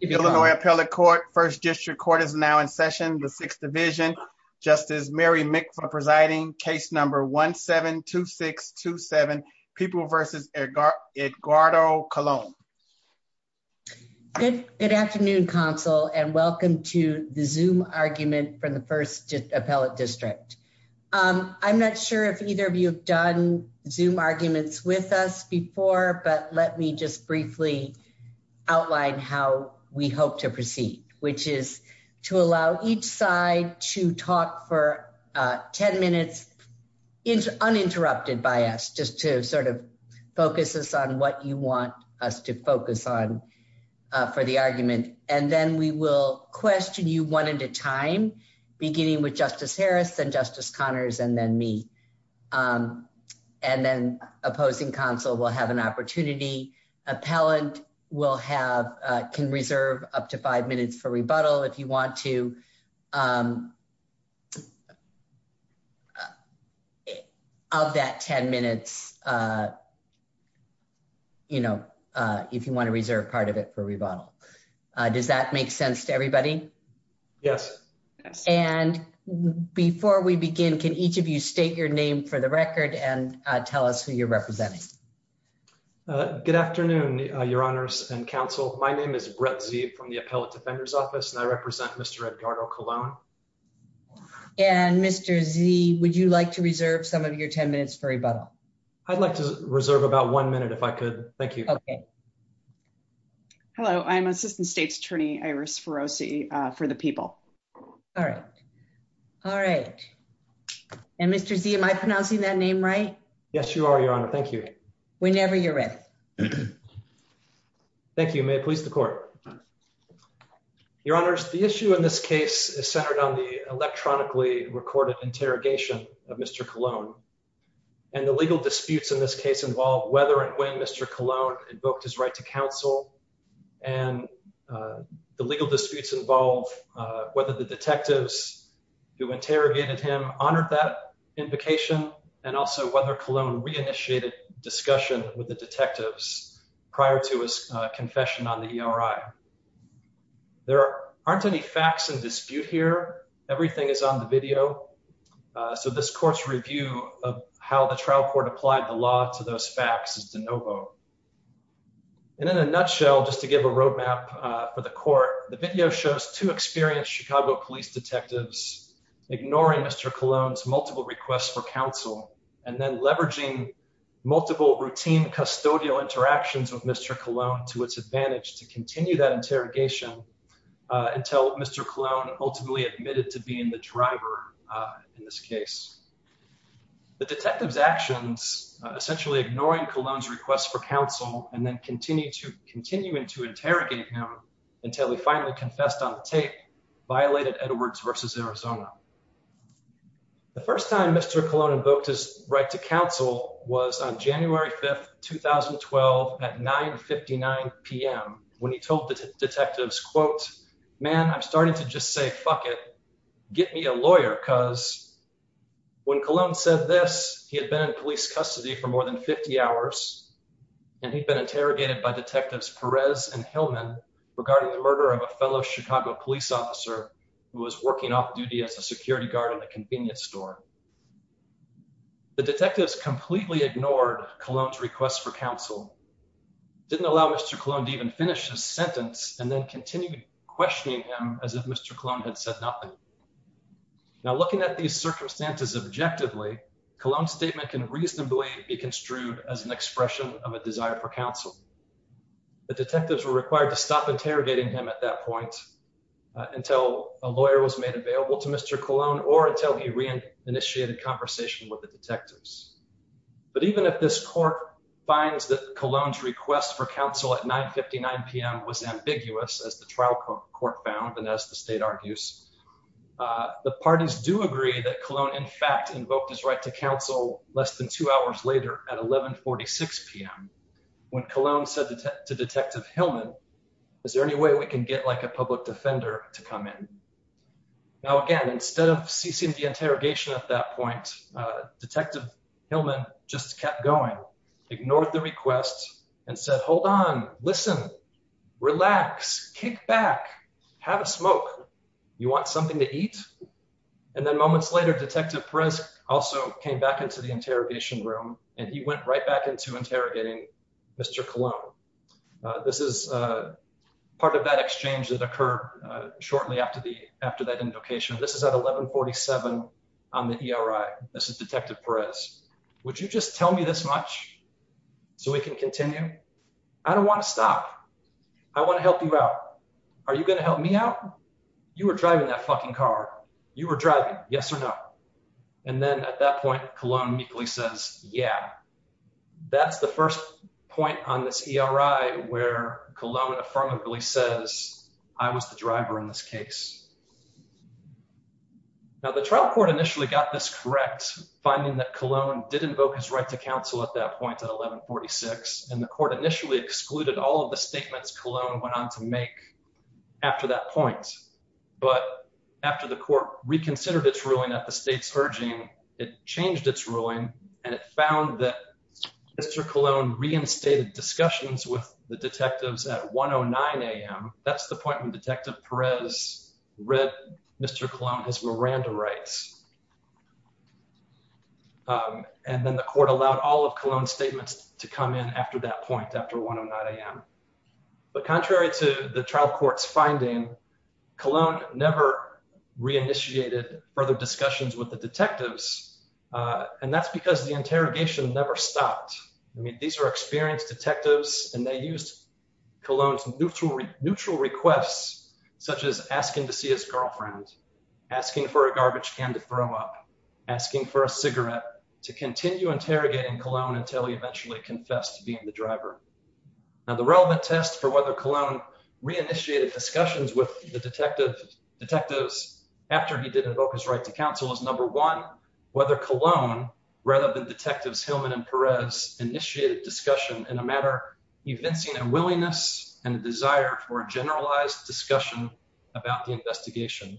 Illinois Appellate Court, First District Court is now in session. The Sixth Division, Justice Mary Mick for presiding, case number 1-7-2627, People v. Edgardo Colon. Good afternoon, Counsel, and welcome to the Zoom argument for the First Appellate District. I'm not sure if either of you have done Zoom arguments with us before, but let me just briefly outline how we hope to proceed, which is to allow each side to talk for 10 minutes uninterrupted by us, just to sort of focus us on what you want us to focus on for the argument. And then we will question you one at a time, beginning with Justice Harris and Justice will have, can reserve up to five minutes for rebuttal if you want to, of that 10 minutes, you know, if you want to reserve part of it for rebuttal. Does that make sense to everybody? Yes. And before we begin, can each of you state your name for the record and tell us who you're representing? Good afternoon, Your Honors and Counsel. My name is Brett Zee from the Appellate Defender's Office and I represent Mr. Edgardo Colon. And Mr. Zee, would you like to reserve some of your 10 minutes for rebuttal? I'd like to reserve about one minute if I could. Thank you. Hello, I'm Assistant State's Attorney Iris Ferrosi for the People. All right. All right. And Mr. Zee, am I pronouncing that name right? Yes, you are, Your Honor. Thank you. Whenever you're ready. Thank you. May it please the court. Your Honors, the issue in this case is centered on the electronically recorded interrogation of Mr. Colon and the legal disputes in this case involve whether and when Mr. Colon invoked his right to counsel and the legal disputes involve whether the detectives who interrogated him honored that invocation and also whether Colon re-initiated discussion with the detectives prior to his confession on the ERI. There aren't any facts in dispute here. Everything is on the video. So this court's review of how the trial court applied the law to those facts is de novo. And in a nutshell, just to give a roadmap for the court, the video shows two experienced Chicago police detectives ignoring Mr. Colon's multiple requests for counsel and then leveraging multiple routine custodial interactions with Mr. Colon to its advantage to continue that interrogation until Mr. Colon ultimately admitted to being the driver in this case. The detectives actions, essentially ignoring Colon's request for counsel and then continuing to interrogate him until he finally confessed on the tape, violated Edwards v. Arizona. The first time Mr. Colon invoked his right to counsel was on January 5, 2012 at 9.59 p.m. when he told the detectives, quote, man, I'm starting to just say, fuck it, get me a lawyer because when Colon said this, he had been in police custody for more than 50 hours and he'd been interrogated by detectives Perez and Hillman regarding the murder of a fellow Chicago police officer who was working off duty as a security guard in the convenience store. The detectives completely ignored Colon's request for counsel, didn't allow Mr. Colon to even finish his sentence and then continued questioning him as if Mr. Colon had said nothing. Now looking at these circumstances objectively, Colon's statement can reasonably be construed as an expression of a desire for counsel. The detectives were required to stop interrogating him at that point until a lawyer was made available to Mr. Colon or until he re-initiated conversation with the trial court found and as the state argues, the parties do agree that Colon in fact invoked his right to counsel less than two hours later at 11.46 p.m. when Colon said to Detective Hillman, is there any way we can get like a public defender to come in? Now again, instead of ceasing the interrogation at that point, Detective Hillman just kept going, ignored the request and said, hold on, listen, relax, kick back, have a smoke, you want something to eat? And then moments later Detective Perez also came back into the interrogation room and he went right back into interrogating Mr. Colon. This is part of that exchange that occurred shortly after that invocation. This is at 11.47 on the ERI. This is Detective Perez. Would you just tell me this much so we can continue? I don't want to stop. I want to help you out. Are you going to help me out? You were driving that fucking car. You were driving, yes or no? And then at that point, Colon meekly says, yeah. That's the first point on this ERI where Colon affirmably says, I was the driver in this case. Now the trial court initially got this correct, finding that Colon did invoke his right to counsel at that point at 11.46, and the court initially excluded all of the statements Colon went on to make after that point. But after the court reconsidered its ruling at the state's urging, it changed its ruling and it found that Mr. Colon reinstated discussions with the detectives at 1.09 a.m. That's the point when Detective Perez read Mr. Colon's Miranda rights. And then the court allowed all of Colon's statements to come in after that point, after 1.09 a.m. But contrary to the trial court's finding, Colon never re-initiated further discussions with the detectives, and that's because the interrogation never stopped. I mean, experienced detectives used Colon's neutral requests, such as asking to see his girlfriend, asking for a garbage can to throw up, asking for a cigarette, to continue interrogating Colon until he eventually confessed to being the driver. Now the relevant test for whether Colon re-initiated discussions with the detectives after he did invoke his right to counsel is, number one, whether Colon, rather than Detectives Hillman and Perez, initiated discussion in a matter evincing a willingness and a desire for a generalized discussion about the investigation.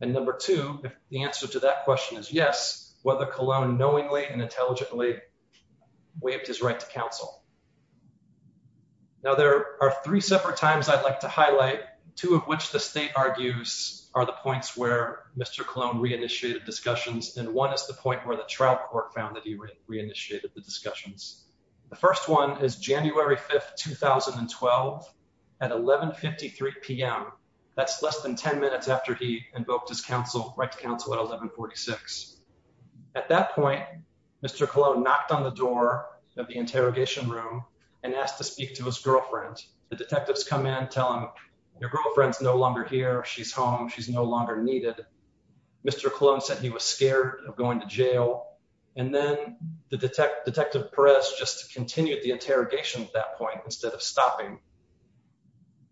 And number two, if the answer to that question is yes, whether Colon knowingly and intelligently waived his right to counsel. Now there are three separate times I'd like to highlight, two of which the state argues are the points where Mr. Colon re-initiated discussions, and one is the point where the trial court found that he re-initiated the discussions. The first one is January 5, 2012 at 11.53 p.m. That's less than 10 minutes after he invoked his counsel, right to counsel, at 11.46. At that point, Mr. Colon knocked on the door of the interrogation room and asked to speak to his girlfriend. The detectives come in and tell him, your girlfriend's no longer here, she's home, she's no longer needed. Mr. Colon said he was scared of going to jail, and then the detective Perez just continued the interrogation at that point instead of stopping.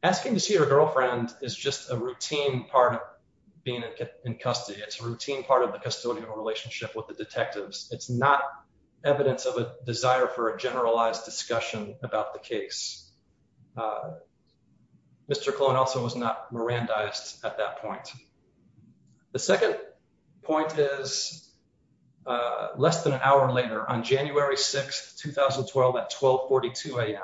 Asking to see your girlfriend is just a routine part of being in custody. It's a routine part of the custodial relationship with the detectives. It's not evidence of a desire for a generalized discussion about the case. Mr. Colon also was not Mirandized at that point. The second point is less than an hour later, on January 6, 2012 at 12.42 a.m.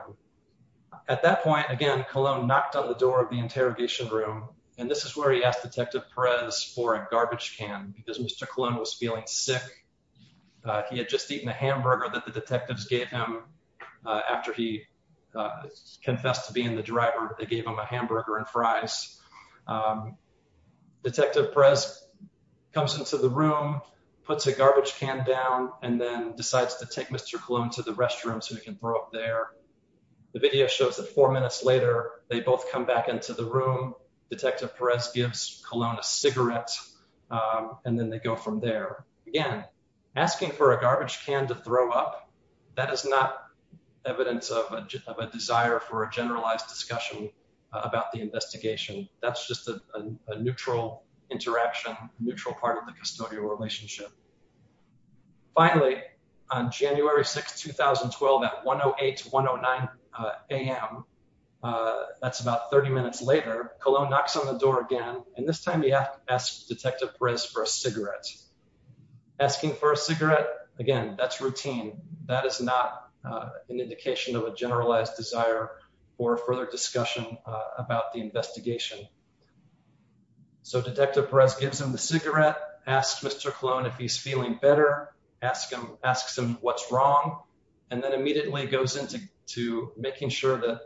At that point, again, Colon knocked on the door of the interrogation room, and this is where he asked Detective Perez for a garbage can because Mr. Colon was feeling sick. He had just eaten a hamburger that the detectives gave him after he confessed to being the driver. They gave him a hamburger and fries. Detective Perez comes into the room, puts a garbage can down, and then decides to take Mr. Colon to the restroom so he can throw up there. The video shows that four minutes later, they both come back into the room. Detective Perez gives Mr. Colon a cigarette, and then they go from there. Again, asking for a garbage can to throw up, that is not evidence of a desire for a generalized discussion about the investigation. That's just a neutral interaction, a neutral part of the custodial relationship. Finally, on January 6, 2012 at 1.08, 1.09 a.m., that's about 30 minutes later, Colon knocks on the door again, and this time he asks Detective Perez for a cigarette. Asking for a cigarette, again, that's routine. That is not an indication of a generalized desire for further discussion about the investigation. Detective Perez gives him the cigarette, asks Mr. Colon if he's feeling better, asks him what's wrong, and then immediately goes into making sure that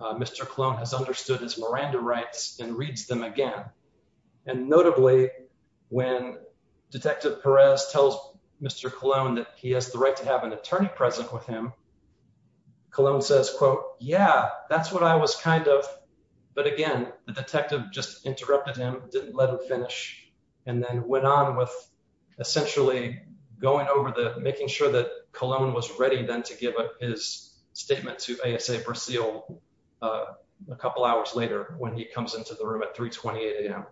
Mr. Colon has understood his Miranda rights and reads them again. Notably, when Detective Perez tells Mr. Colon that he has the right to have an attorney present with him, Colon says, quote, yeah, that's what I was kind of, but again, the detective just interrupted him, didn't let him finish, and then went on with essentially going over the, making sure that Colon was ready then to give his statement to ASA Brasile a couple hours later when he comes into the room at 3.28 a.m.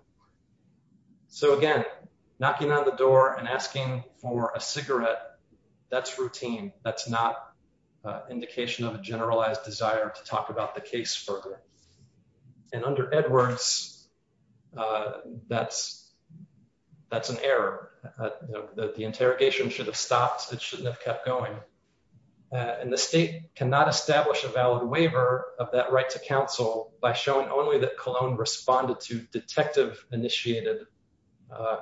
So again, knocking on the door and asking for a cigarette, that's routine. That's not an indication of a generalized desire to talk about the case further. And under Edwards, that's an error. The interrogation should have stopped. It shouldn't have kept going. And the state cannot establish a valid waiver of that right to counsel by showing only that Colon responded to detective-initiated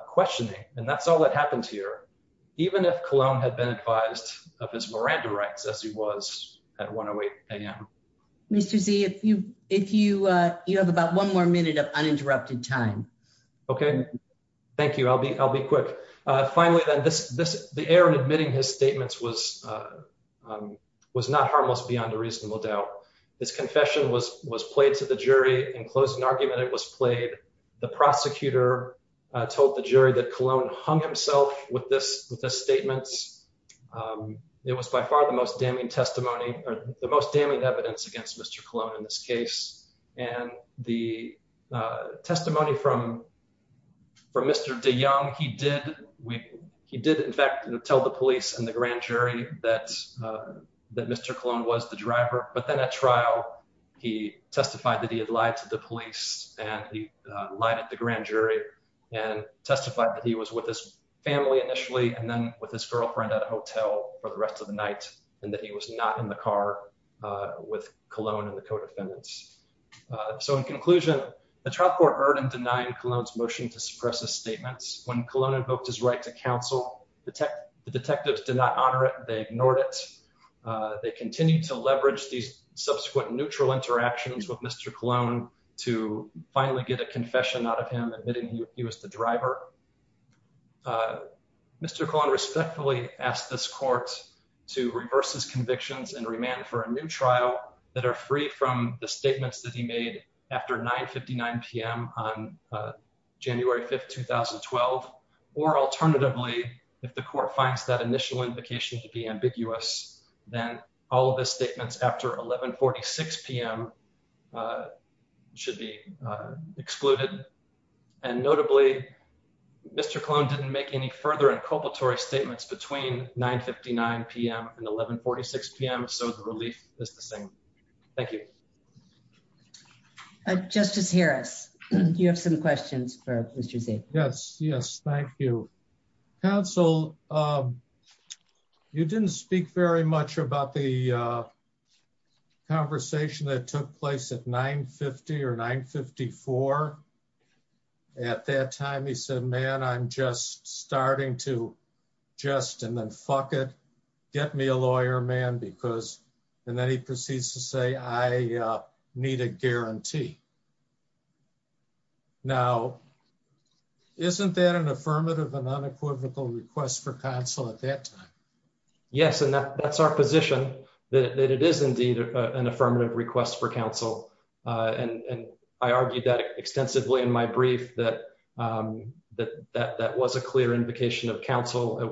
questioning. And that's all that happened here, even if Colon had been advised of his Miranda rights as he was at 1.08 a.m. Mr. Z, if you have about one more minute of uninterrupted time. Okay. Thank you. I'll be quick. Finally, then, the error in admitting his statements was not harmless beyond a reasonable doubt. This confession was played to the jury. In closing argument, it was played. The prosecutor told the jury that Colon hung himself with this statement. It was by far the most damning testimony or the most damning evidence against Mr. Colon in this case. And the testimony from Mr. DeYoung, he did, in fact, tell the police and the grand jury that Mr. Colon was the driver. But then at trial, he testified that he had lied to the police and he lied at the grand jury and testified that he was with his family initially and then with his girlfriend at a hotel for the rest of the night and that he was not in the car with Colon and the co-defendants. So, in conclusion, the trial court heard and denied Colon's motion to suppress his statements. When Colon invoked his right to counsel, the detectives did not honor it. They ignored it. They continued to leverage these subsequent neutral interactions with Mr. Colon. Mr. Colon respectfully asked this court to reverse his convictions and remand for a new trial that are free from the statements that he made after 9.59 p.m. on January 5, 2012. Or alternatively, if the court finds that initial invocation to be ambiguous, then all of his statements after 11.46 p.m. should be excluded. And notably, Mr. Colon didn't make any further inculpatory statements between 9.59 p.m. and 11.46 p.m., so the relief is the same. Thank you. Justice Harris, do you have some questions for Mr. Zeke? Yes, yes, thank you. Counsel, you didn't speak very much about the conversation that took place at 9.50 or 9.54. At that time, he said, man, I'm just starting to just, and then fuck it, get me a non-equivocal request for counsel at that time. Yes, and that's our position, that it is indeed an affirmative request for counsel. And I argued that extensively in my brief that was a clear invocation of counsel. It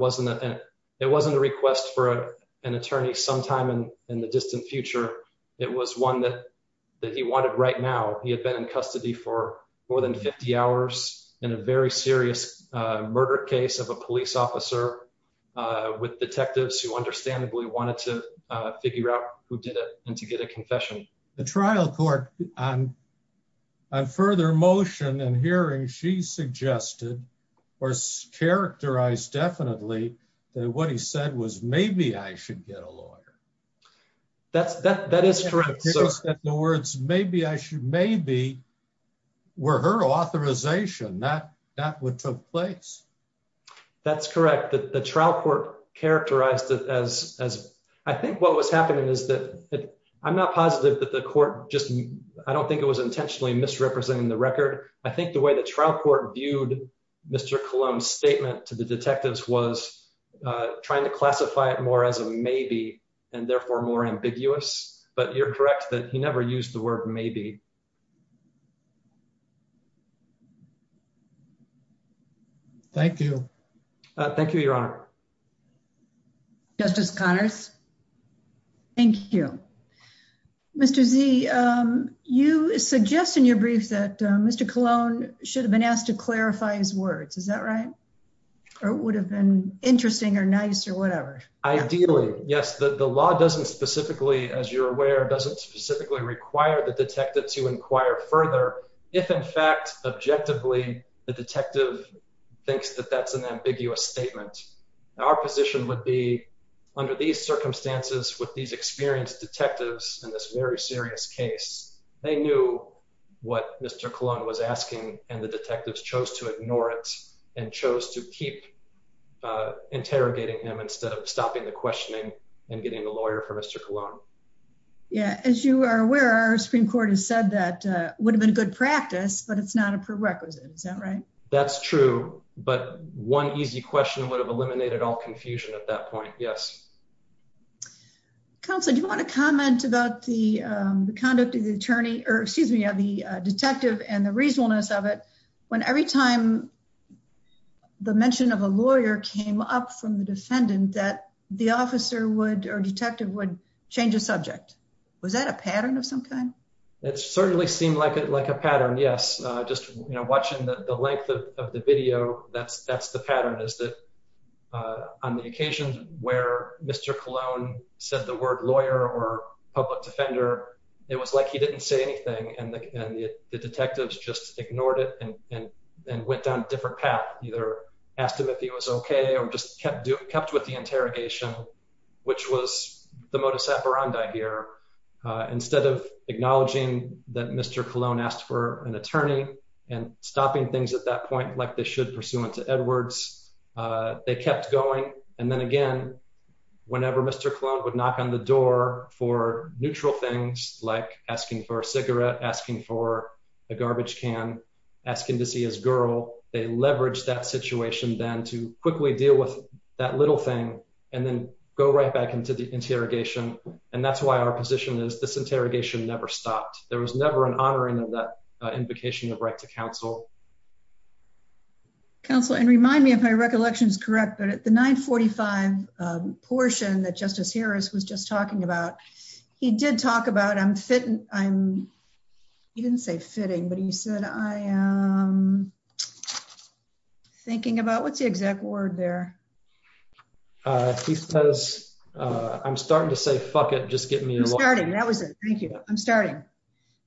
wasn't a request for an attorney sometime in the distant future. It was one that he wanted right now. He had been in custody for more than 50 hours in a very serious murder case of a police officer with detectives who understandably wanted to figure out who did it and to get a confession. The trial court, on further motion and hearing, she suggested or characterized definitely that what he said was, maybe I should get a lawyer. That is correct. In other words, maybe were her authorization that that would took place. That's correct. The trial court characterized it as, I think what was happening is that, I'm not positive that the court just, I don't think it was intentionally misrepresenting the record. I think the way the trial court viewed Mr. Cullum's statement to the detectives was trying to classify it more as a maybe and therefore more ambiguous. But you're correct that he never used the word maybe. Thank you. Thank you, Your Honor. Justice Connors. Thank you. Mr. Z, you suggest in your brief that Mr. Cologne should have been asked to clarify his words, is that right? Or would have been interesting or nice or whatever? Ideally, yes. The law doesn't specifically, as you're aware, doesn't specifically require the detective to inquire further. If in fact, objectively, the detective thinks that that's an ambiguous statement. Our position would be under these circumstances with these experienced detectives in this very serious case, they knew what Mr. Cologne was asking and the detectives chose to ignore it and chose to keep interrogating him instead of stopping the questioning and getting the lawyer for Mr. Cologne. Yeah. As you are aware, our Supreme Court has said that would have been good practice, but it's not a prerequisite. Is that right? That's true. But one easy question would have eliminated all confusion at that point. Yes. Counselor, do you want to comment about the conduct of the attorney or excuse me, the detective and the reasonableness of it when every time the mention of a lawyer came up from the defendant that the officer would or detective would change the subject? Was that a pattern of some kind? It certainly seemed like a pattern. Yes. Just watching the length of the video, that's the pattern is that on the occasion where Mr. Cologne said the word lawyer or public defender, it was like he didn't say anything and the detectives just ignored it and went down a different path, either asked him if he was OK or just kept with the interrogation, which was the modus operandi here. Instead of acknowledging that Mr. Cologne asked for an attorney and stopping things at that point like they should pursuant to Edwards, they kept going. And then again, whenever Mr. Cologne would knock on the door for neutral things like asking for a cigarette, asking for a garbage can, asking to see his girl, they leveraged that situation then to quickly deal with that little thing and then go right back into the interrogation. And that's why our position is this interrogation never stopped. There was never an honoring of that invocation of right to counsel. Counsel, and remind me if my recollection is correct, but at the nine forty five portion that Justice Harris was just talking about, he did talk about I'm fitting. I'm he didn't say fitting, but he said I am thinking about what's the exact word there? He says I'm starting to say fuck it. Just get me started. That was it. Thank you. I'm starting.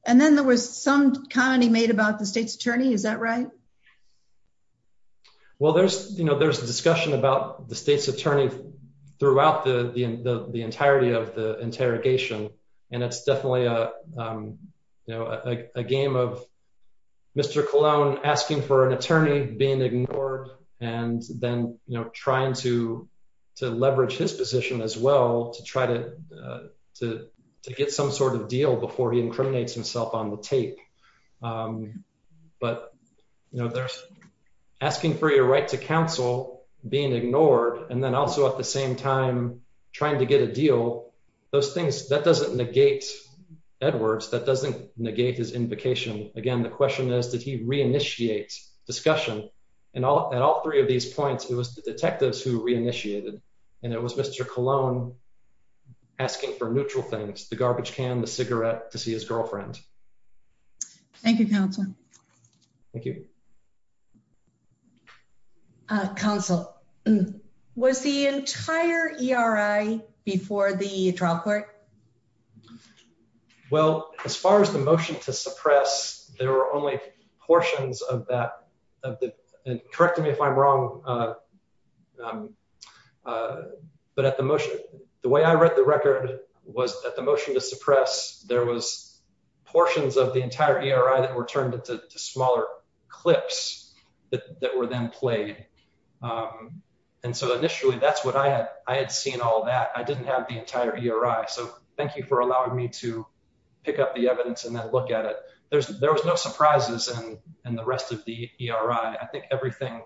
And then there was some comedy made about the state's attorney. Is that right? Well, there's there's a discussion about the state's attorney throughout the entirety of the interrogation, and it's definitely a game of Mr. Cologne asking for an attorney being ignored and then trying to to leverage his position as well to try to to to get some sort of deal before he incriminates himself on the tape. But, you know, there's asking for your right to counsel, being ignored and then also at the same time trying to get a deal. Those things that doesn't negate Edwards, that doesn't negate his invocation. Again, the question is, did he reinitiate discussion? And at all three of these points, it was the detectives who reinitiated. And it was Mr. Cologne asking for neutral things, the garbage can, the cigarette to see his girlfriend. Thank you, counsel. Thank you. Council was the entire E.R.I. before the trial court. Well, as far as the motion to suppress, there were only portions of that of the correct me if I'm right. But at the motion, the way I read the record was at the motion to suppress. There was portions of the entire E.R.I. that were turned into smaller clips that were then played. And so initially that's what I had. I had seen all that. I didn't have the entire E.R.I. So thank you for allowing me to pick up the evidence and then look at it. There's there was no surprises. And the rest of the E.R.I., I think everything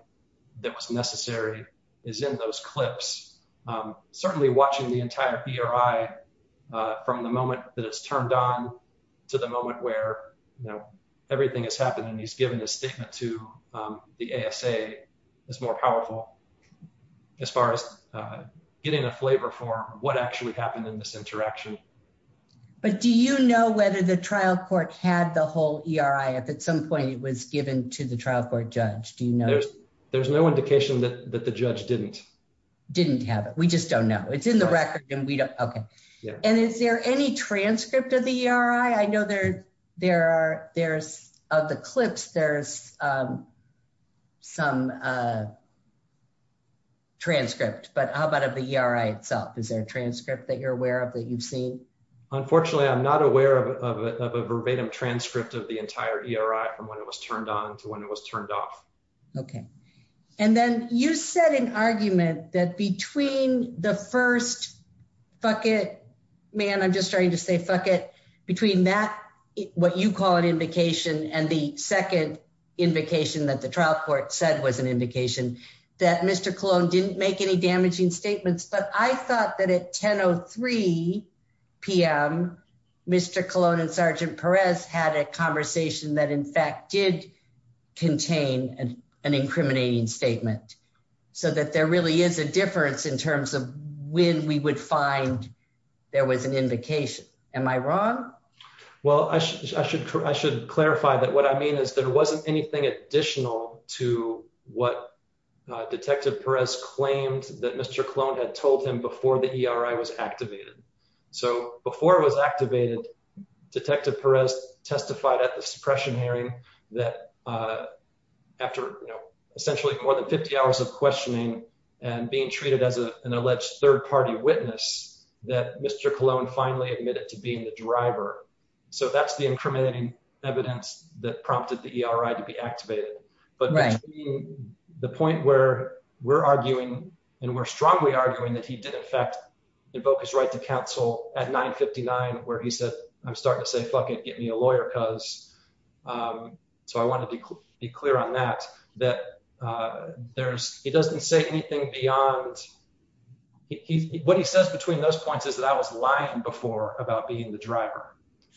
that was necessary is in those clips. Certainly watching the entire E.R.I. from the moment that it's turned on to the moment where everything has happened and he's given a statement to the A.S.A. is more powerful as far as getting a flavor for what actually happened in this interaction. But do you know whether the trial court had the whole E.R.I. if at some point it was given to the trial court judge? Do you know? There's no indication that the judge didn't. Didn't have it. We just don't know. It's in the record and we don't. OK. And is there any transcript of the E.R.I.? I know there there are there's of the clips. There's some transcript. But how about of the E.R.I. itself? Is there a transcript that you're aware that you've seen? Unfortunately, I'm not aware of a verbatim transcript of the entire E.R.I. from when it was turned on to when it was turned off. OK. And then you said an argument that between the first fuck it, man, I'm just trying to say fuck it between that what you call an invocation and the second invocation that the trial court said was an indication that Mr. didn't make any damaging statements. But I thought that at 10.03 p.m., Mr. Cologne and Sergeant Perez had a conversation that, in fact, did contain an incriminating statement so that there really is a difference in terms of when we would find there was an invocation. Am I wrong? Well, I should I should clarify that what I mean is there wasn't anything additional to what Detective Perez claimed that Mr. Cologne had told him before the E.R.I. was activated. So before it was activated, Detective Perez testified at the suppression hearing that after essentially more than 50 hours of questioning and being treated as an alleged third party witness that Mr. Cologne finally admitted to being the driver. So that's the incriminating evidence that prompted the E.R.I. to be activated. But the point where we're arguing and we're strongly arguing that he did, in fact, invoke his right to counsel at 9.59, where he said, I'm starting to say, fuck it, get me a lawyer because. So I want to be clear on that, that there's it doesn't say anything beyond what he says between those points is that I was lying before about being the driver.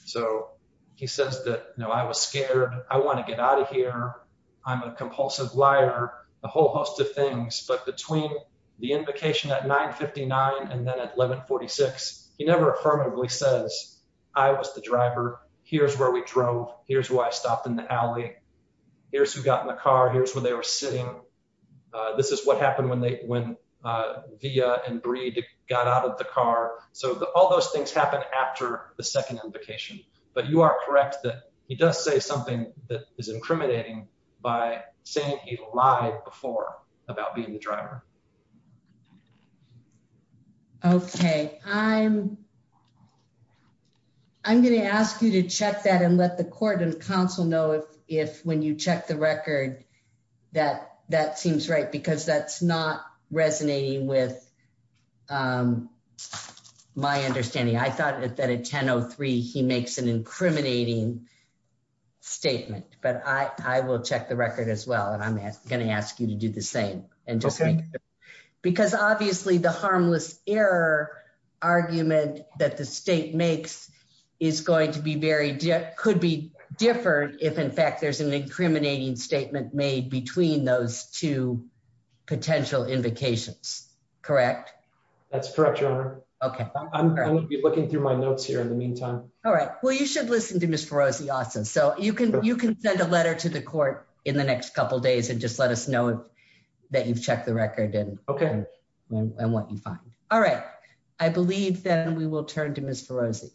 So he says that, no, I was scared. I want to get out of here. I'm a compulsive liar, a whole host of things. But between the invocation at 9.59 and then at 11.46, he never affirmatively says I was the driver. Here's where we drove. Here's why I stopped in the alley. Here's who got in the car. Here's where they were sitting. This is what happened when they went via and got out of the car. So all those things happen after the second invocation. But you are correct that he does say something that is incriminating by saying he lied before about being the driver. OK, I'm. I'm going to ask you to check that and let the court and counsel know if when you check the record that that seems right, because that's not resonating with my understanding. I thought that at 10.03 he makes an incriminating statement, but I will check the record as well. And I'm going to ask you to do the same and just because obviously the harmless error argument that the state makes is going to be could be different if in fact there's an incriminating statement made between those two potential invocations, correct? That's correct, Your Honor. OK, I'm going to be looking through my notes here in the meantime. All right. Well, you should listen to Mr. Rossi. So you can you can send a letter to the court in the next couple of days and just let us know that you've checked the record and what you find. All right. I believe that we will turn to Mr. Rossi.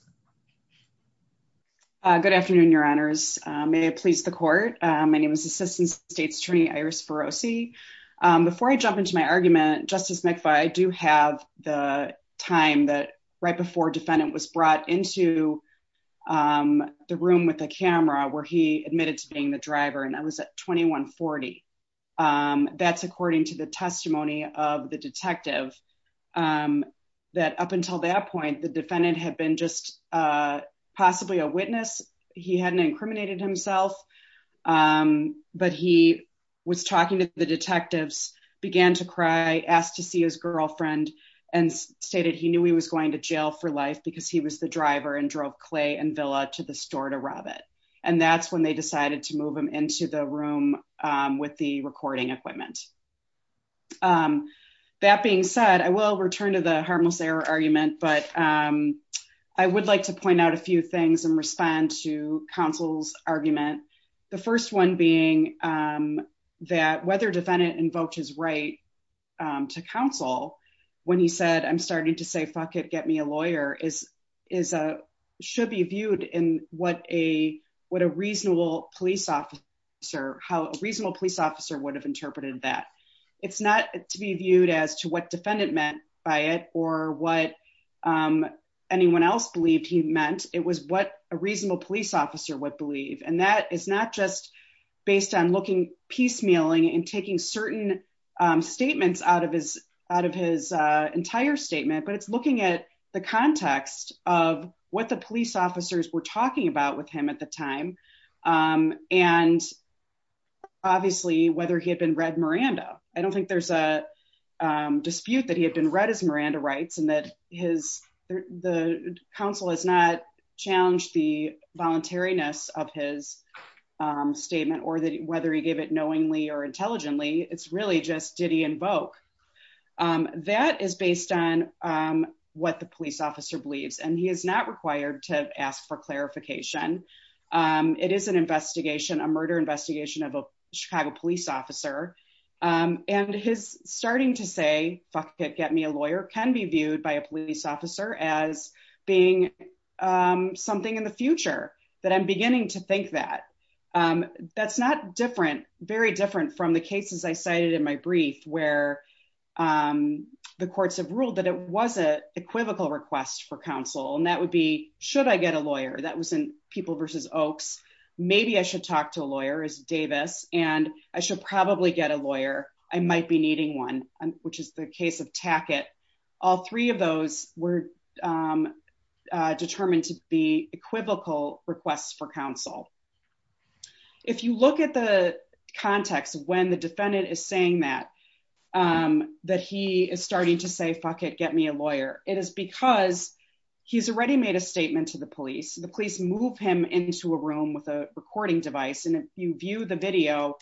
Good afternoon, Your Honors. May it please the court. My name is Assistant State's Attorney Iris Rossi. Before I jump into my argument, Justice McFarland, I do have the time that right before defendant was brought into the room with the camera where he admitted to being the of the detective, that up until that point, the defendant had been just possibly a witness. He hadn't incriminated himself, but he was talking to the detectives, began to cry, asked to see his girlfriend and stated he knew he was going to jail for life because he was the driver and drove Clay and Villa to the store to rob it. And that's when decided to move him into the room with the recording equipment. That being said, I will return to the harmless error argument, but I would like to point out a few things and respond to counsel's argument. The first one being that whether defendant invoked his right to counsel when he said, I'm starting to say, fuck it, get me a lawyer is is should be viewed in what a what police officer, how a reasonable police officer would have interpreted that. It's not to be viewed as to what defendant meant by it or what anyone else believed he meant. It was what a reasonable police officer would believe. And that is not just based on looking piecemealing and taking certain statements out of his out of his entire statement, but it's looking at the context of what the and obviously whether he had been read Miranda. I don't think there's a dispute that he had been read as Miranda rights and that his the council has not challenged the voluntariness of his statement or that whether he gave it knowingly or intelligently, it's really just did he invoke that is based on what the police officer believes and he is not required to ask for clarification. Um, it is an investigation, a murder investigation of a Chicago police officer. Um, and his starting to say, fuck it, get me a lawyer can be viewed by a police officer as being, um, something in the future that I'm beginning to think that, um, that's not different, very different from the cases I cited in my brief where, um, the courts have ruled that it was a equivocal request for people versus Oaks. Maybe I should talk to a lawyer as Davis, and I should probably get a lawyer. I might be needing one, which is the case of Tackett. All three of those were, um, determined to be equivocal requests for counsel. If you look at the context of when the defendant is saying that, um, that he is starting to say, fuck it, get me a lawyer. It is because he's already made a statement to the police. The police move him into a room with a recording device. And if you view the video,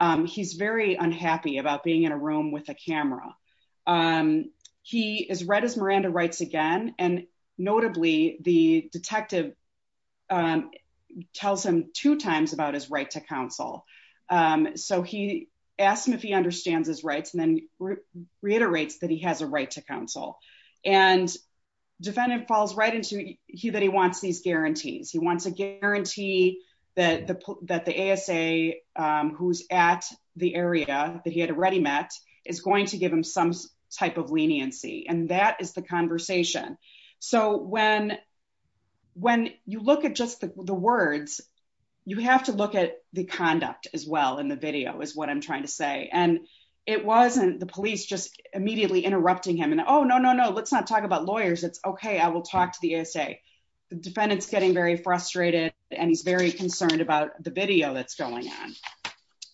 um, he's very unhappy about being in a room with a camera. Um, he is read as Miranda writes again, and notably the detective, um, tells him two times about his right to counsel. Um, so he asked him if he understands his rights and then reiterates that he has a right to counsel and defendant falls right into he, that he wants these guarantees. He wants a guarantee that the, that the ASA, um, who's at the area that he had already met is going to give him some type of leniency. And that is the conversation. So when, when you look at just the words, you have to look at the conduct as well in the video is what I'm immediately interrupting him and, Oh no, no, no. Let's not talk about lawyers. It's okay. I will talk to the ASA. The defendant's getting very frustrated and he's very concerned about the video that's going on.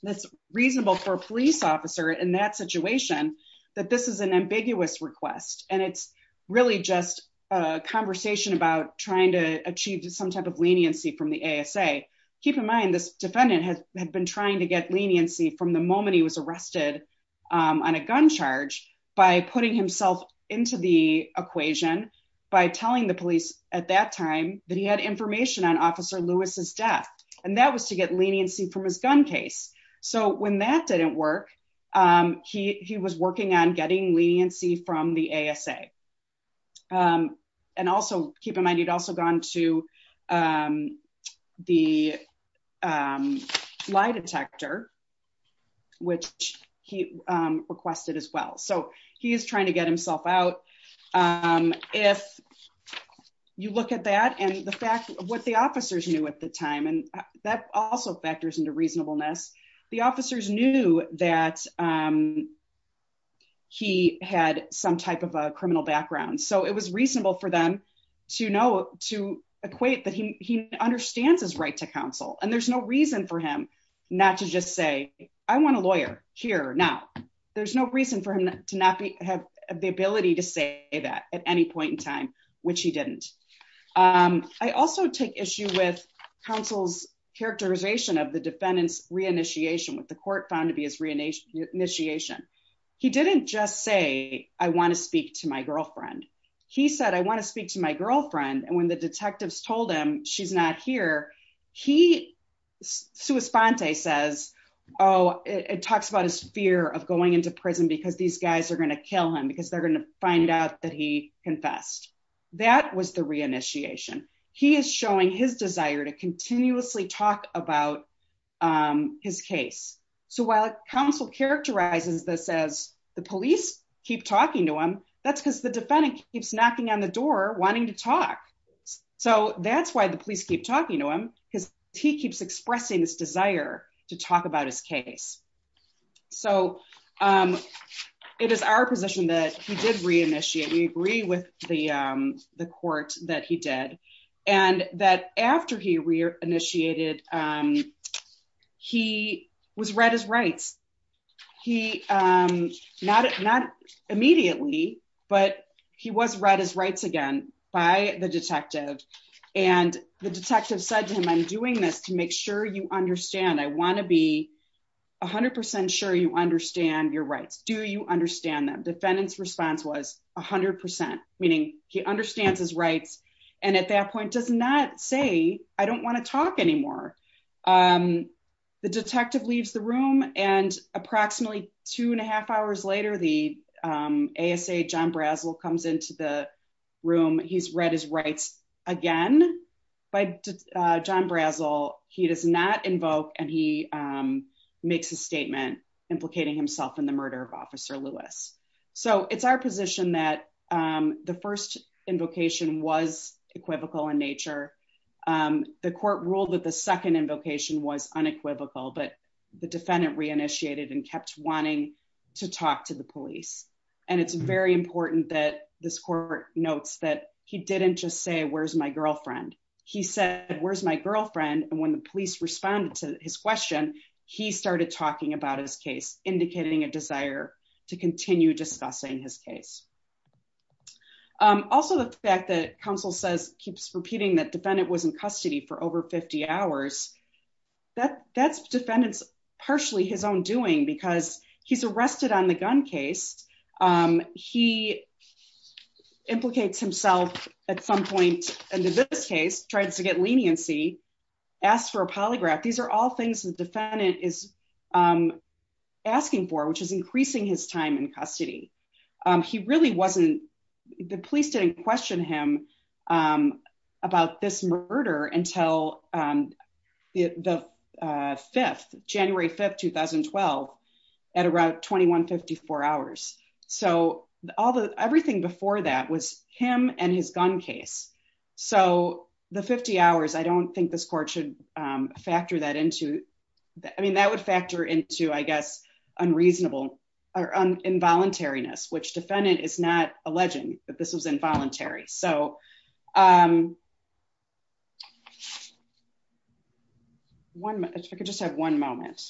That's reasonable for a police officer in that situation, that this is an ambiguous request. And it's really just a conversation about trying to achieve some type of leniency from the ASA. Keep in mind, this defendant has been trying to get leniency from the moment he was arrested, um, on a gun charge by putting himself into the equation by telling the police at that time that he had information on officer Lewis's death. And that was to get leniency from his gun case. So when that didn't work, um, he, he was working on getting leniency from the ASA. Um, and also keep in mind, he'd also gone to, um, the, um, lie detector, which he, um, requested as well. So he is trying to get himself out. Um, if you look at that and the fact of what the officers knew at the time, and that also factors into reasonableness, the officers knew that, um, he had some type of a criminal background. So it was reasonable for them to know, to equate that he understands his right to counsel. And there's no reason for him not to just say, I want a lawyer here. Now, there's no reason for him to not be, have the ability to say that at any point in time, which he didn't. Um, I also take issue with counsel's characterization of the defendant's re-initiation with the court found to be his re-initiation. He didn't just say, I want to speak to my girlfriend. He said, I want to speak to my girlfriend. And when the detectives told him she's not here, he, suespante says, oh, it talks about his fear of going into prison because these guys are going to kill him because they're going to find out that he confessed. That was the re-initiation. He is showing his desire to continuously talk about, um, his case. So while counsel characterizes this as the police keep talking to him, that's because the defendant keeps knocking on the door wanting to talk. So that's why the police keep talking to him because he keeps expressing this desire to talk about his case. So, um, it is our position that he did re-initiate. We agree with the, um, the court that he did and that after he re-initiated, um, he was read his rights. He, um, not, not immediately, but he was read his rights again by the detective and the detective said to him, I'm doing this to make sure you understand. I want to be a hundred percent sure you understand your rights. Do you understand that? Defendant's response was a hundred percent, meaning he understands his rights and at that point does not say, I don't want to talk anymore. Um, the detective leaves the room and approximately two and a half hours later, the, um, ASA, John Brazel comes into the room. He's read his rights again by, uh, John Brazel. He does not invoke and he, um, makes a statement implicating himself in the murder of officer Lewis. So it's our position that, um, the first invocation was equivocal in nature. Um, the court ruled that the second invocation was unequivocal, but the defendant re-initiated and kept wanting to talk to the police. And it's very important that this court notes that he didn't just say, where's my girlfriend. He said, where's my girlfriend? And when the police responded to his question, he started talking about his case, indicating a desire to continue discussing his case. Um, also the fact that counsel says, keeps repeating that defendant was in custody for over 50 hours, that that's defendant's partially his own doing because he's arrested on the gun case. Um, he implicates himself at some point into this case, tried to get leniency, asked for a polygraph. These are all things the defendant is, um, asking for, which is increasing his time in custody. Um, he really wasn't, the police didn't question him, um, about this murder until, um, the, uh, 5th, January 5th, 2012 at around 2154 hours. So all the, everything before that was him and his gun case. So the 50 hours, I don't think this court should, um, factor that into that. I mean, that would factor into, I guess, unreasonable or involuntariness, which defendant is not alleging that this was involuntary. So, um, one minute, I could just have one moment.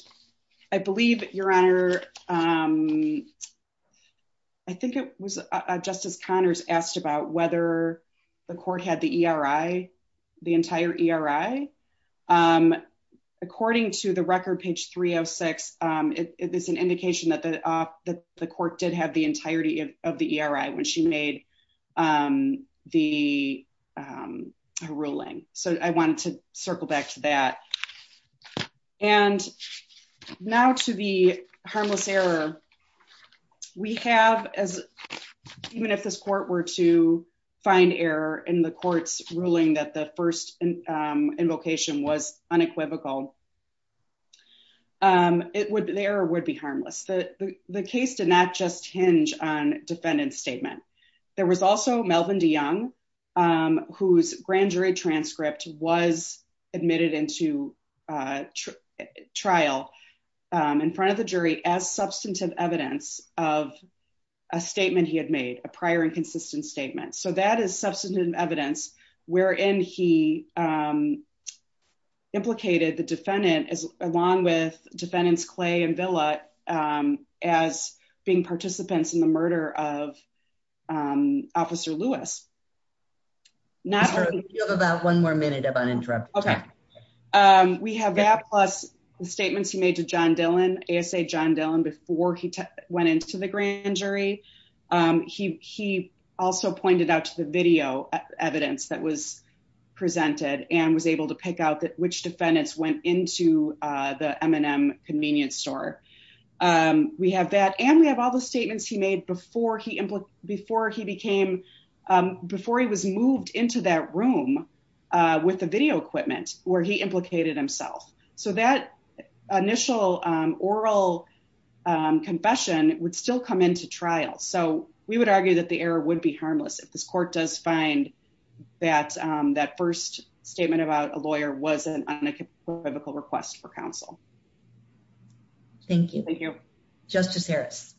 I believe your honor. Um, I think it was a justice Connors asked about whether the court had the ERI, the entire ERI. Um, according to the record page three Oh six. Um, it is an indication that the, uh, the court did have the entirety of the ERI when she made, um, the, um, ruling. So I wanted to circle back to that. And now to the harmless error we have as even if this court were to find error in the court's ruling that the first, um, invocation was unequivocal. Um, it would, there would be harmless. The, the case did not just hinge on defendant's statement. There was also Melvin DeYoung, um, whose grand jury transcript was admitted into, uh, trial, um, in front of the jury as substantive evidence of a statement he had made a prior and consistent statement. So that is substantive evidence wherein he, um, implicated the defendant as along with defendants and Villa, um, as being participants in the murder of, um, officer Lewis, not about one more minute of uninterrupted time. Um, we have that plus the statements he made to John Dillon, ASA John Dillon before he went into the grand jury. Um, he, he also pointed out to the video evidence that was presented and was able to pick out that which defendants went into, uh, the M and M convenience store. Um, we have that and we have all the statements he made before he, before he became, um, before he was moved into that room, uh, with the video equipment where he implicated himself. So that initial, um, oral, um, confession would still come into trial. So we would argue that the error would be harmless. If this court does find that, um, first statement about a lawyer wasn't on a biblical request for counsel. Thank you. Thank you. Justice Harris.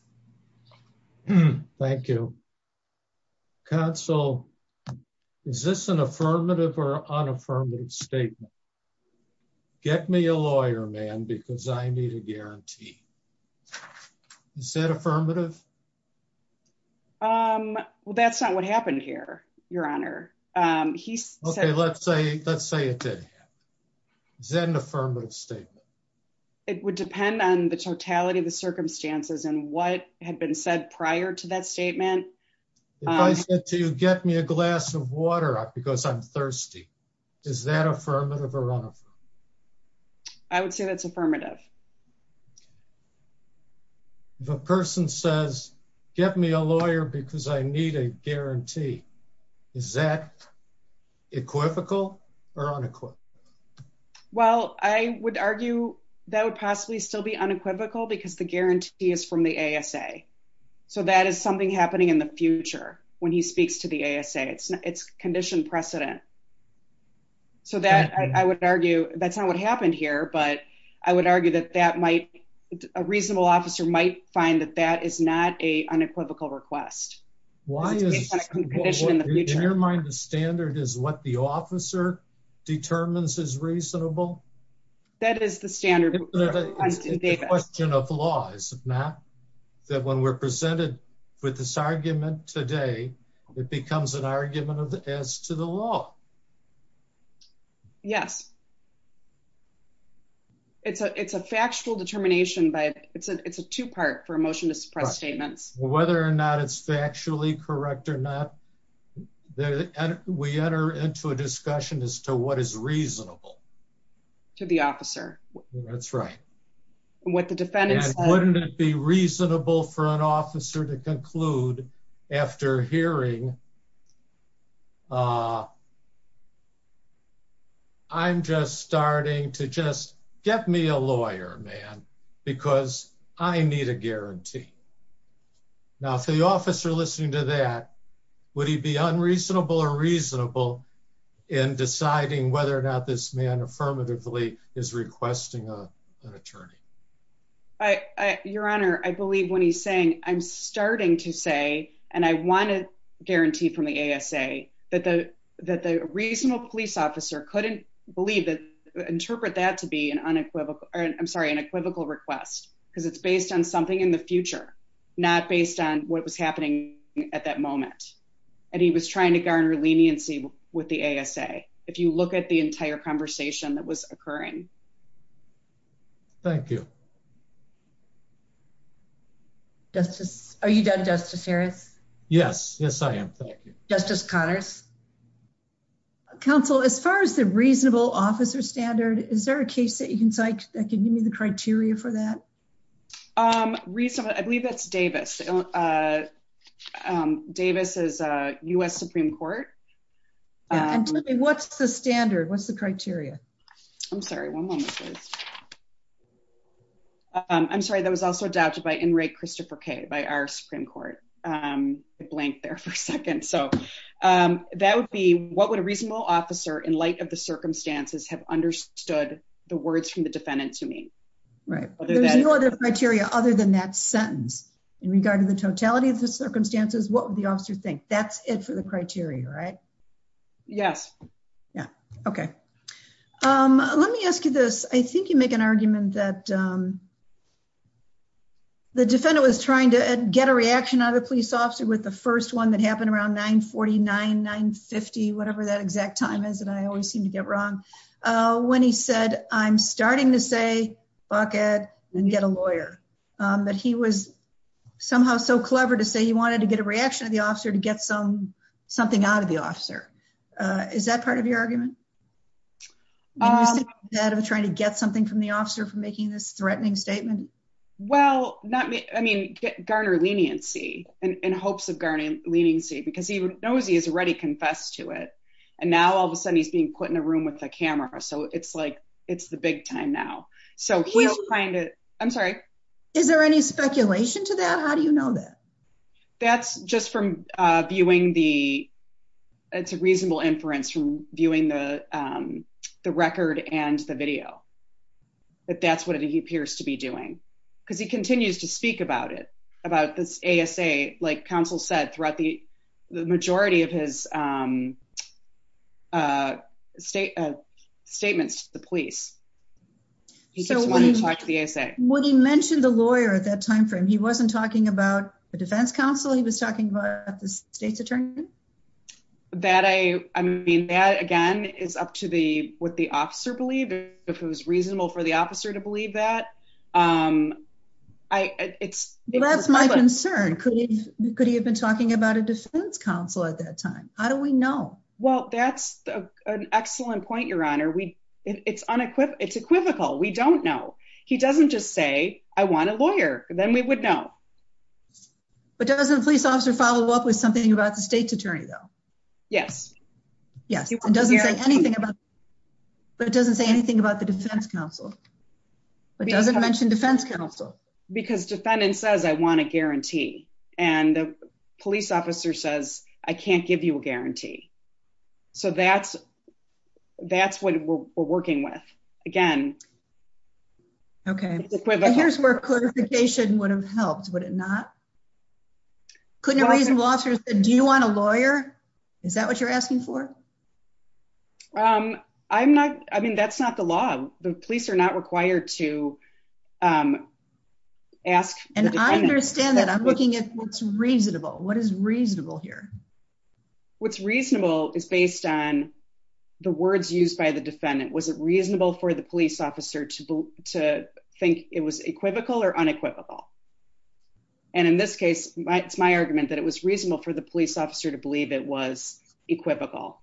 Thank you. Console. Is this an affirmative or unaffirmative statement? Get me a lawyer, man, because I need a guarantee. Is that affirmative? Um, well, that's not what happened here, your honor. Um, he said, let's say, let's say it did. Is that an affirmative statement? It would depend on the totality of the circumstances and what had been said prior to that statement. If I said to you, get me a glass of water because I'm thirsty. Is that affirmative or unaffirmative? I would say that's affirmative. The person says, get me a lawyer because I need a guarantee. Is that equivocal or unequivocal? Well, I would argue that would possibly still be unequivocal because the guarantee is from the ASA. So that is something happening in the future when he speaks to the ASA, it's not, it's conditioned precedent. So that I would argue that's not what happened here, but I would argue that that might, a reasonable officer might find that that is not a unequivocal request. Why is it conditioned in the future? In your mind, the standard is what the officer determines is reasonable? That is the standard. It's a question of laws, not that when we're presented with this argument today, it becomes an argument as to the law. Yes. It's a, it's a factual determination, but it's a, it's a two-part for a motion to suppress statements. Whether or not it's factually correct or not, we enter into a discussion as to what is reasonable to the officer. That's right. And what the defendants, wouldn't it be reasonable for an attorney to say, I'm just starting to just get me a lawyer, man, because I need a guarantee. Now, if the officer listening to that, would he be unreasonable or reasonable in deciding whether or not this man affirmatively is requesting an attorney? Your Honor, I believe when he's saying, I'm starting to say, and I want to guarantee from the ASA that the, that the reasonable police officer couldn't believe that interpret that to be an unequivocal, or I'm sorry, an equivocal request. Cause it's based on something in the future, not based on what was happening at that moment. And he was trying to garner leniency with the ASA. If you look at the entire conversation that was occurring. Thank you. Justice, are you done justice Harris? Yes. Yes, I am. Thank you. Justice Connors. Counsel, as far as the reasonable officer standard, is there a case that you can cite that can give me the criteria for that? Um, recently, I believe that's Davis. Uh, um, Davis is a U S Supreme court. And what's the standard? What's the criteria? I'm sorry. One moment, please. Um, I'm sorry. That was also doubted by in rate Christopher K by our Supreme court. Um, blank there for a second. So, um, that would be what would a reasonable officer in light of the circumstances have understood the words from the defendant to me. Right. There's no other criteria other than that sentence in regard to the totality of the circumstances. What would the officer think that's it for the criteria, right? Yes. Yeah. Okay. Um, let me ask you this. I think you make an argument that, um, the defendant was trying to get a reaction out of the police officer with the first one that happened around nine 49, nine 50, whatever that exact time is. And I always seem to get wrong. Uh, when he said, I'm starting to say bucket and get a lawyer, um, that he was somehow so clever to say he wanted to get a reaction of the officer to get some, something out of the officer. Uh, is that part of your argument that I'm trying to get something from the officer for making this well, not me. I mean, garner leniency and hopes of garnering leniency because he knows he has already confessed to it. And now all of a sudden he's being put in a room with a camera. So it's like, it's the big time now. So he'll find it. I'm sorry. Is there any speculation to that? How do you know that that's just from, uh, viewing the, it's a reasonable inference from viewing the, the record and the video, but that's what he appears to be doing because he continues to speak about it, about this ASA, like counsel said throughout the majority of his, um, uh, state, uh, statements to the police. He keeps wanting to talk to the ASA. When he mentioned the lawyer at that time frame, he wasn't talking about the defense counsel. He was talking about the state's attorney. That I, I mean, that again is up to the, what the officer believed if it was reasonable for the officer to believe that, um, I it's, that's my concern. Could he, could he have been talking about a defense counsel at that time? How do we know? Well, that's an excellent point. Your honor. We it's unequivocal. It's equivocal. We don't know. He doesn't just say I want a lawyer. Then we would know. But doesn't police officer follow up with something about the state's attorney though? Yes. Yes. It doesn't say anything about, but it doesn't say anything about the defense counsel, but it doesn't mention defense counsel because defendant says, I want a guarantee. And the police officer says, I can't give you a guarantee. So that's, that's what we're working with. Again. Okay. Here's where clarification would have helped. Would it not? Couldn't a reasonable officer said, do you want a lawyer? Is that what you're asking for? Um, I'm not, I mean, that's not the law. The police are not required to, um, ask. And I understand that I'm looking at what's reasonable. What is reasonable here? What's reasonable is based on the words used by the defendant. Was it reasonable for the police officer to, to think it was equivocal or unequivocal. And in this case, my, it's my argument that it was reasonable for the police officer to believe it was equivocal.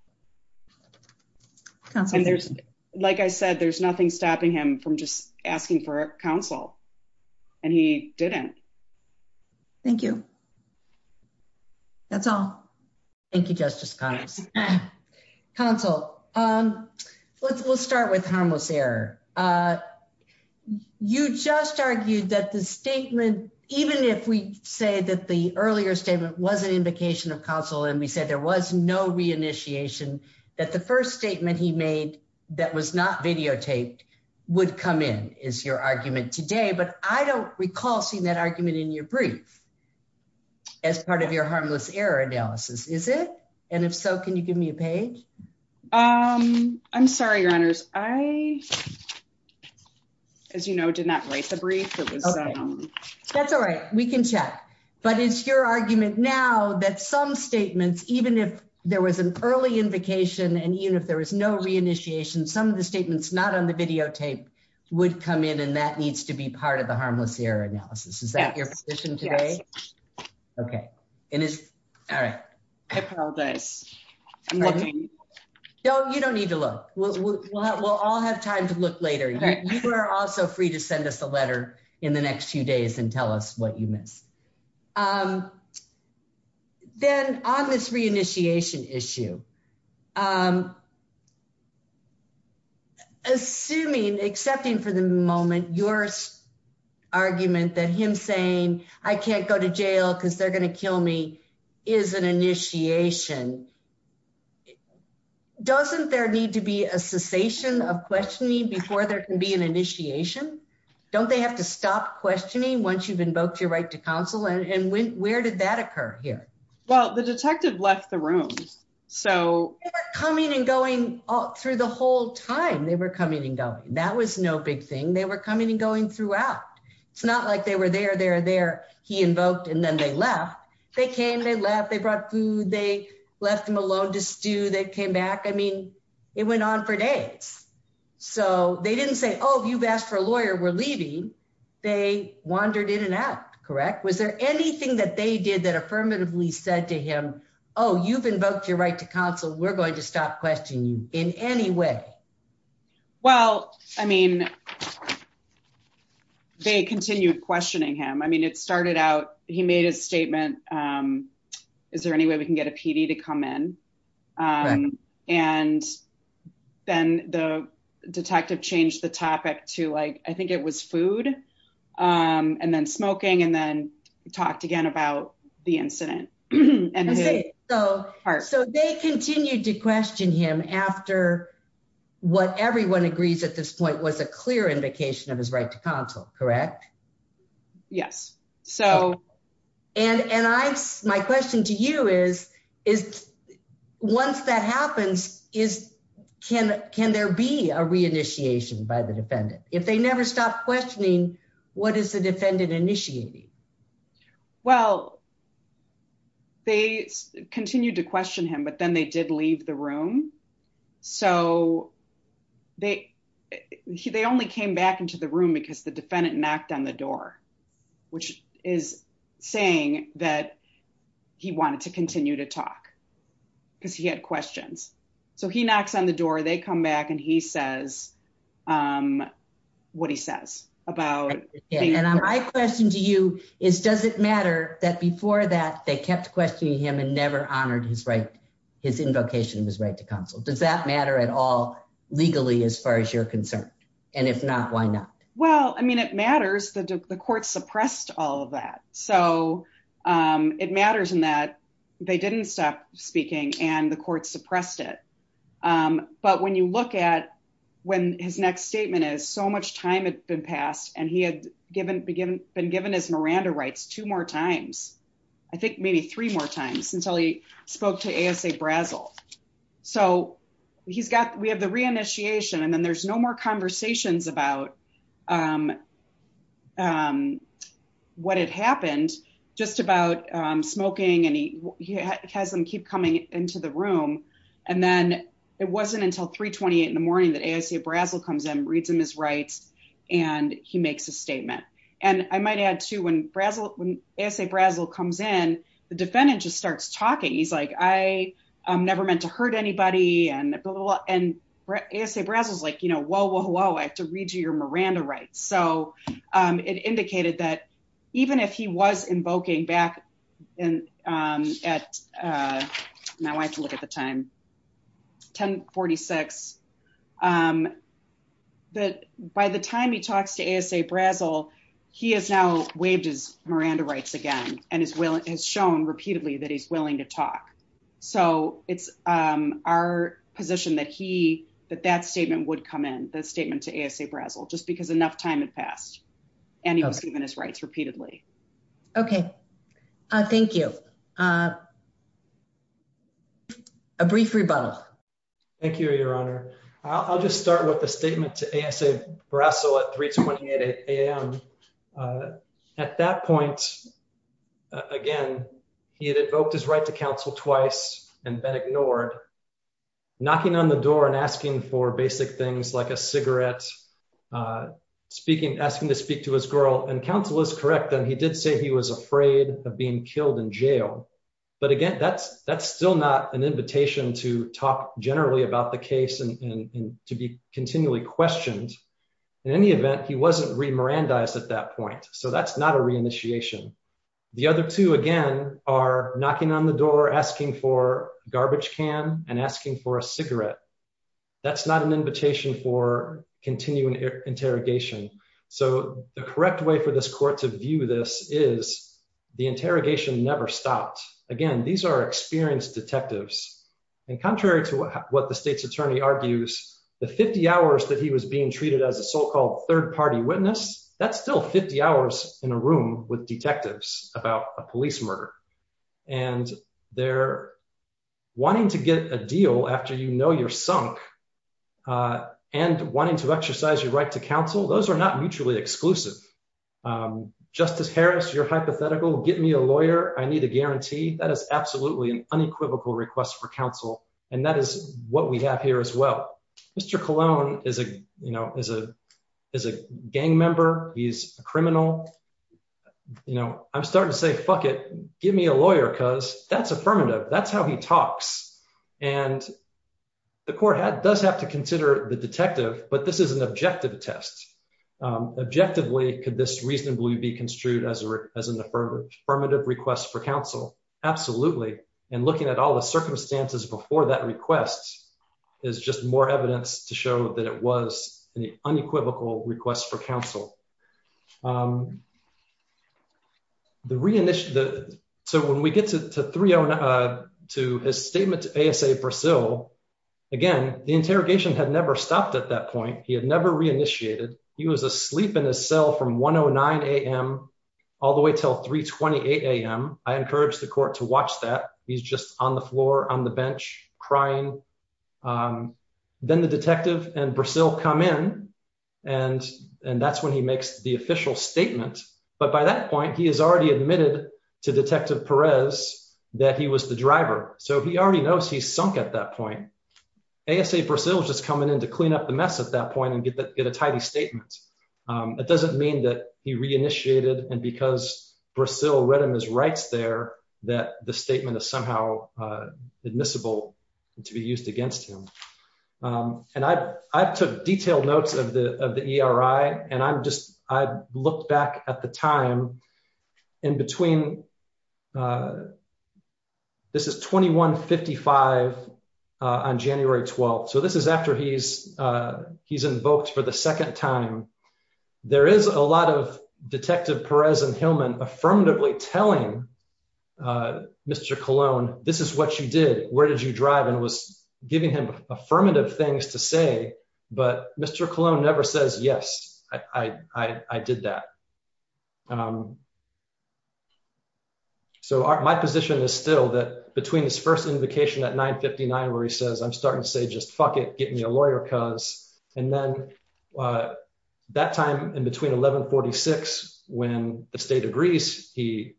Like I said, there's nothing stopping him from just asking for counsel and he didn't. Thank you. That's all. Thank you. Justice. Counsel. Um, let's, we'll start with harmless error. Uh, you just argued that the statement, even if we say that the earlier statement wasn't invocation of counsel, and we said there was no reinitiation that the first statement he made that was not videotaped would come in is your argument today, but I don't recall seeing that argument in your brief as part of your harmless error analysis, is it? And if so, can you give me a page? Um, I'm sorry, your honors. I, as you know, did not write the brief. That's all right. We can check, but it's your argument now that some statements, even if there was an early invocation and even if there was no reinitiation, some of the statements not on the videotape would come in and that needs to be part of the harmless error analysis. Is that your position today? Okay. And it's all right. I apologize. No, you don't need to look. We'll, we'll have, we'll all have time to look later. You are also free to send us a letter in the next few days and tell us what you missed. Um, then on this reinitiation issue, um, assuming, excepting for the moment, your argument that him saying, I can't go to jail because they're going to kill me is an initiation. Doesn't there need to be a cessation of questioning before there can be an initiation? Don't they have to stop questioning once you've invoked your right to counsel? And when, where did that occur here? Well, the detective left the room. So coming and going through the whole time they were coming and going, that was no big thing. They were coming and going throughout. It's not like they were there, they're there. He invoked and then they left. They came, they left, they brought food. They left them alone to stew. They came back. I mean, it went on for days. So they didn't say, Oh, you've asked for a lawyer. We're leaving. They wandered in and out. Correct. Was there anything that they did that affirmatively said to him, Oh, you've invoked your right to counsel. We're going to stop questioning you in any way. Well, I mean, they continued questioning him. I mean, it started out, he made a statement. Is there any way we can get a PD to come in? And then the detective changed the topic to like, I think it was food and then smoking and then talked again about the incident. So they continued to question him after what everyone agrees at this point was a clear invocation of his right to counsel, correct? Yes. And my question to you is, once that happens, can there be a re-initiation by the defendant? If they never stopped questioning, what is the defendant initiating? Well, they continued to question him, but then they did back into the room because the defendant knocked on the door, which is saying that he wanted to continue to talk because he had questions. So he knocks on the door, they come back and he says what he says about. And my question to you is, does it matter that before that they kept questioning him and never honored his right, his invocation of his right to counsel? Does that line up? Well, I mean, it matters that the court suppressed all of that. So it matters in that they didn't stop speaking and the court suppressed it. But when you look at when his next statement is so much time had been passed and he had been given his Miranda rights two more times, I think maybe three more times until he spoke to ASA Brazel. So we have the re-initiation and there's no more conversations about what had happened, just about smoking. And he has them keep coming into the room. And then it wasn't until 3.28 in the morning that ASA Brazel comes in, reads him his rights, and he makes a statement. And I might add too, when ASA Brazel comes in, the defendant just starts talking. He's like, I never meant to hurt anybody. And ASA Brazel's like, you know, whoa, whoa, whoa, I have to read you your Miranda rights. So it indicated that even if he was invoking back at, now I have to look at the time, 10.46, that by the time he talks to ASA Brazel, he has now waived his Miranda rights again and has shown repeatedly that he's willing to talk. So it's our position that that statement would come in, the statement to ASA Brazel, just because enough time had passed and he was given his rights repeatedly. Okay. Thank you. A brief rebuttal. Thank you, Your Honor. I'll just start with the he had invoked his right to counsel twice and been ignored, knocking on the door and asking for basic things like a cigarette, asking to speak to his girl. And counsel is correct that he did say he was afraid of being killed in jail. But again, that's still not an invitation to talk generally about the case and to be continually questioned. In any event, he wasn't re-Mirandized at that point. So that's not a re-initiation. The other two, again, are knocking on the door, asking for garbage can and asking for a cigarette. That's not an invitation for continuing interrogation. So the correct way for this court to view this is the interrogation never stopped. Again, these are experienced detectives and contrary to what the state's attorney argues, the 50 hours that he was being treated as a so-called third-party witness, that's still 50 hours in a room with detectives about a police murder. And they're wanting to get a deal after you know you're sunk and wanting to exercise your right to counsel. Those are not mutually exclusive. Justice Harris, you're hypothetical. Get me a lawyer. I need a guarantee. That is absolutely an unequivocal request for counsel. And that is what we have here as well. Mr. Colon is a gang member. He's a criminal. I'm starting to say, fuck it. Give me a lawyer because that's affirmative. That's how he talks. And the court does have to consider the detective, but this is an objective test. Objectively, could this reasonably be construed as an affirmative request for counsel? Absolutely. And looking at all the circumstances before that request is just more evidence to show that it was an unequivocal request for counsel. So when we get to his statement to ASA Brazil, again, the interrogation had never stopped at that point. He had never reinitiated. He was asleep in his cell from 109 a.m. all the way till 328 a.m. I encourage the court to watch that. He's just on the floor on the bench crying. Then the detective and Brazil come in, and that's when he makes the official statement. But by that point, he has already admitted to Detective Perez that he was the driver. So he already knows he's sunk at that point. ASA Brazil was just coming in to clean up the mess at that point. It doesn't mean that he reinitiated, and because Brazil read in his rights there that the statement is somehow admissible to be used against him. And I took detailed notes of the ERI, and I'm just, I looked back at the time in between, this is 2155 on January 12th. So this is after he's invoked for the second time. There is a lot of Detective Perez and Hillman affirmatively telling Mr. Colon, this is what you did, where did you drive, and was giving him affirmative things to say. But Mr. Colon never says, yes, I did that. So my position is still that between his first invocation at 959, where he says, I'm starting to say, just fuck it, get me a lawyer cuz. And then that time in between 1146, when the state agrees, he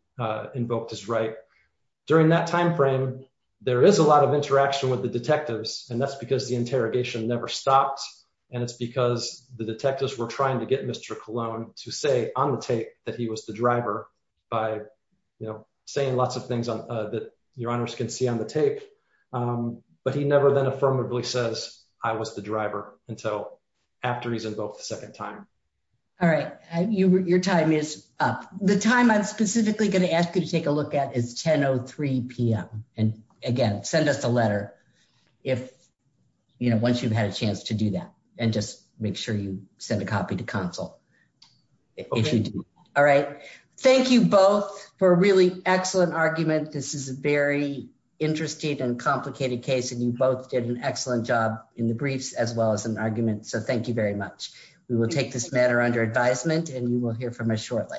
invoked his right. During that time frame, there is a lot of interaction with the detectives, and that's because the interrogation never stopped. And it's because the detectives were trying to get Mr. Colon to say on the tape that he was the driver by saying lots of things that your honors can see on the tape. But he never then affirmatively says, I was the driver until after he's invoked the second time. All right, your time is up. The time I'm specifically going to ask you to take a look at is 10.03 p.m. And again, send us a letter once you've had a chance to do that, and just make sure you send a copy to console. All right. Thank you both for a really excellent argument. This is a very interesting and complicated case, and you both did an excellent job in the briefs as well as an argument. So thank you very much. We will take this matter under advisement and you will hear from us shortly.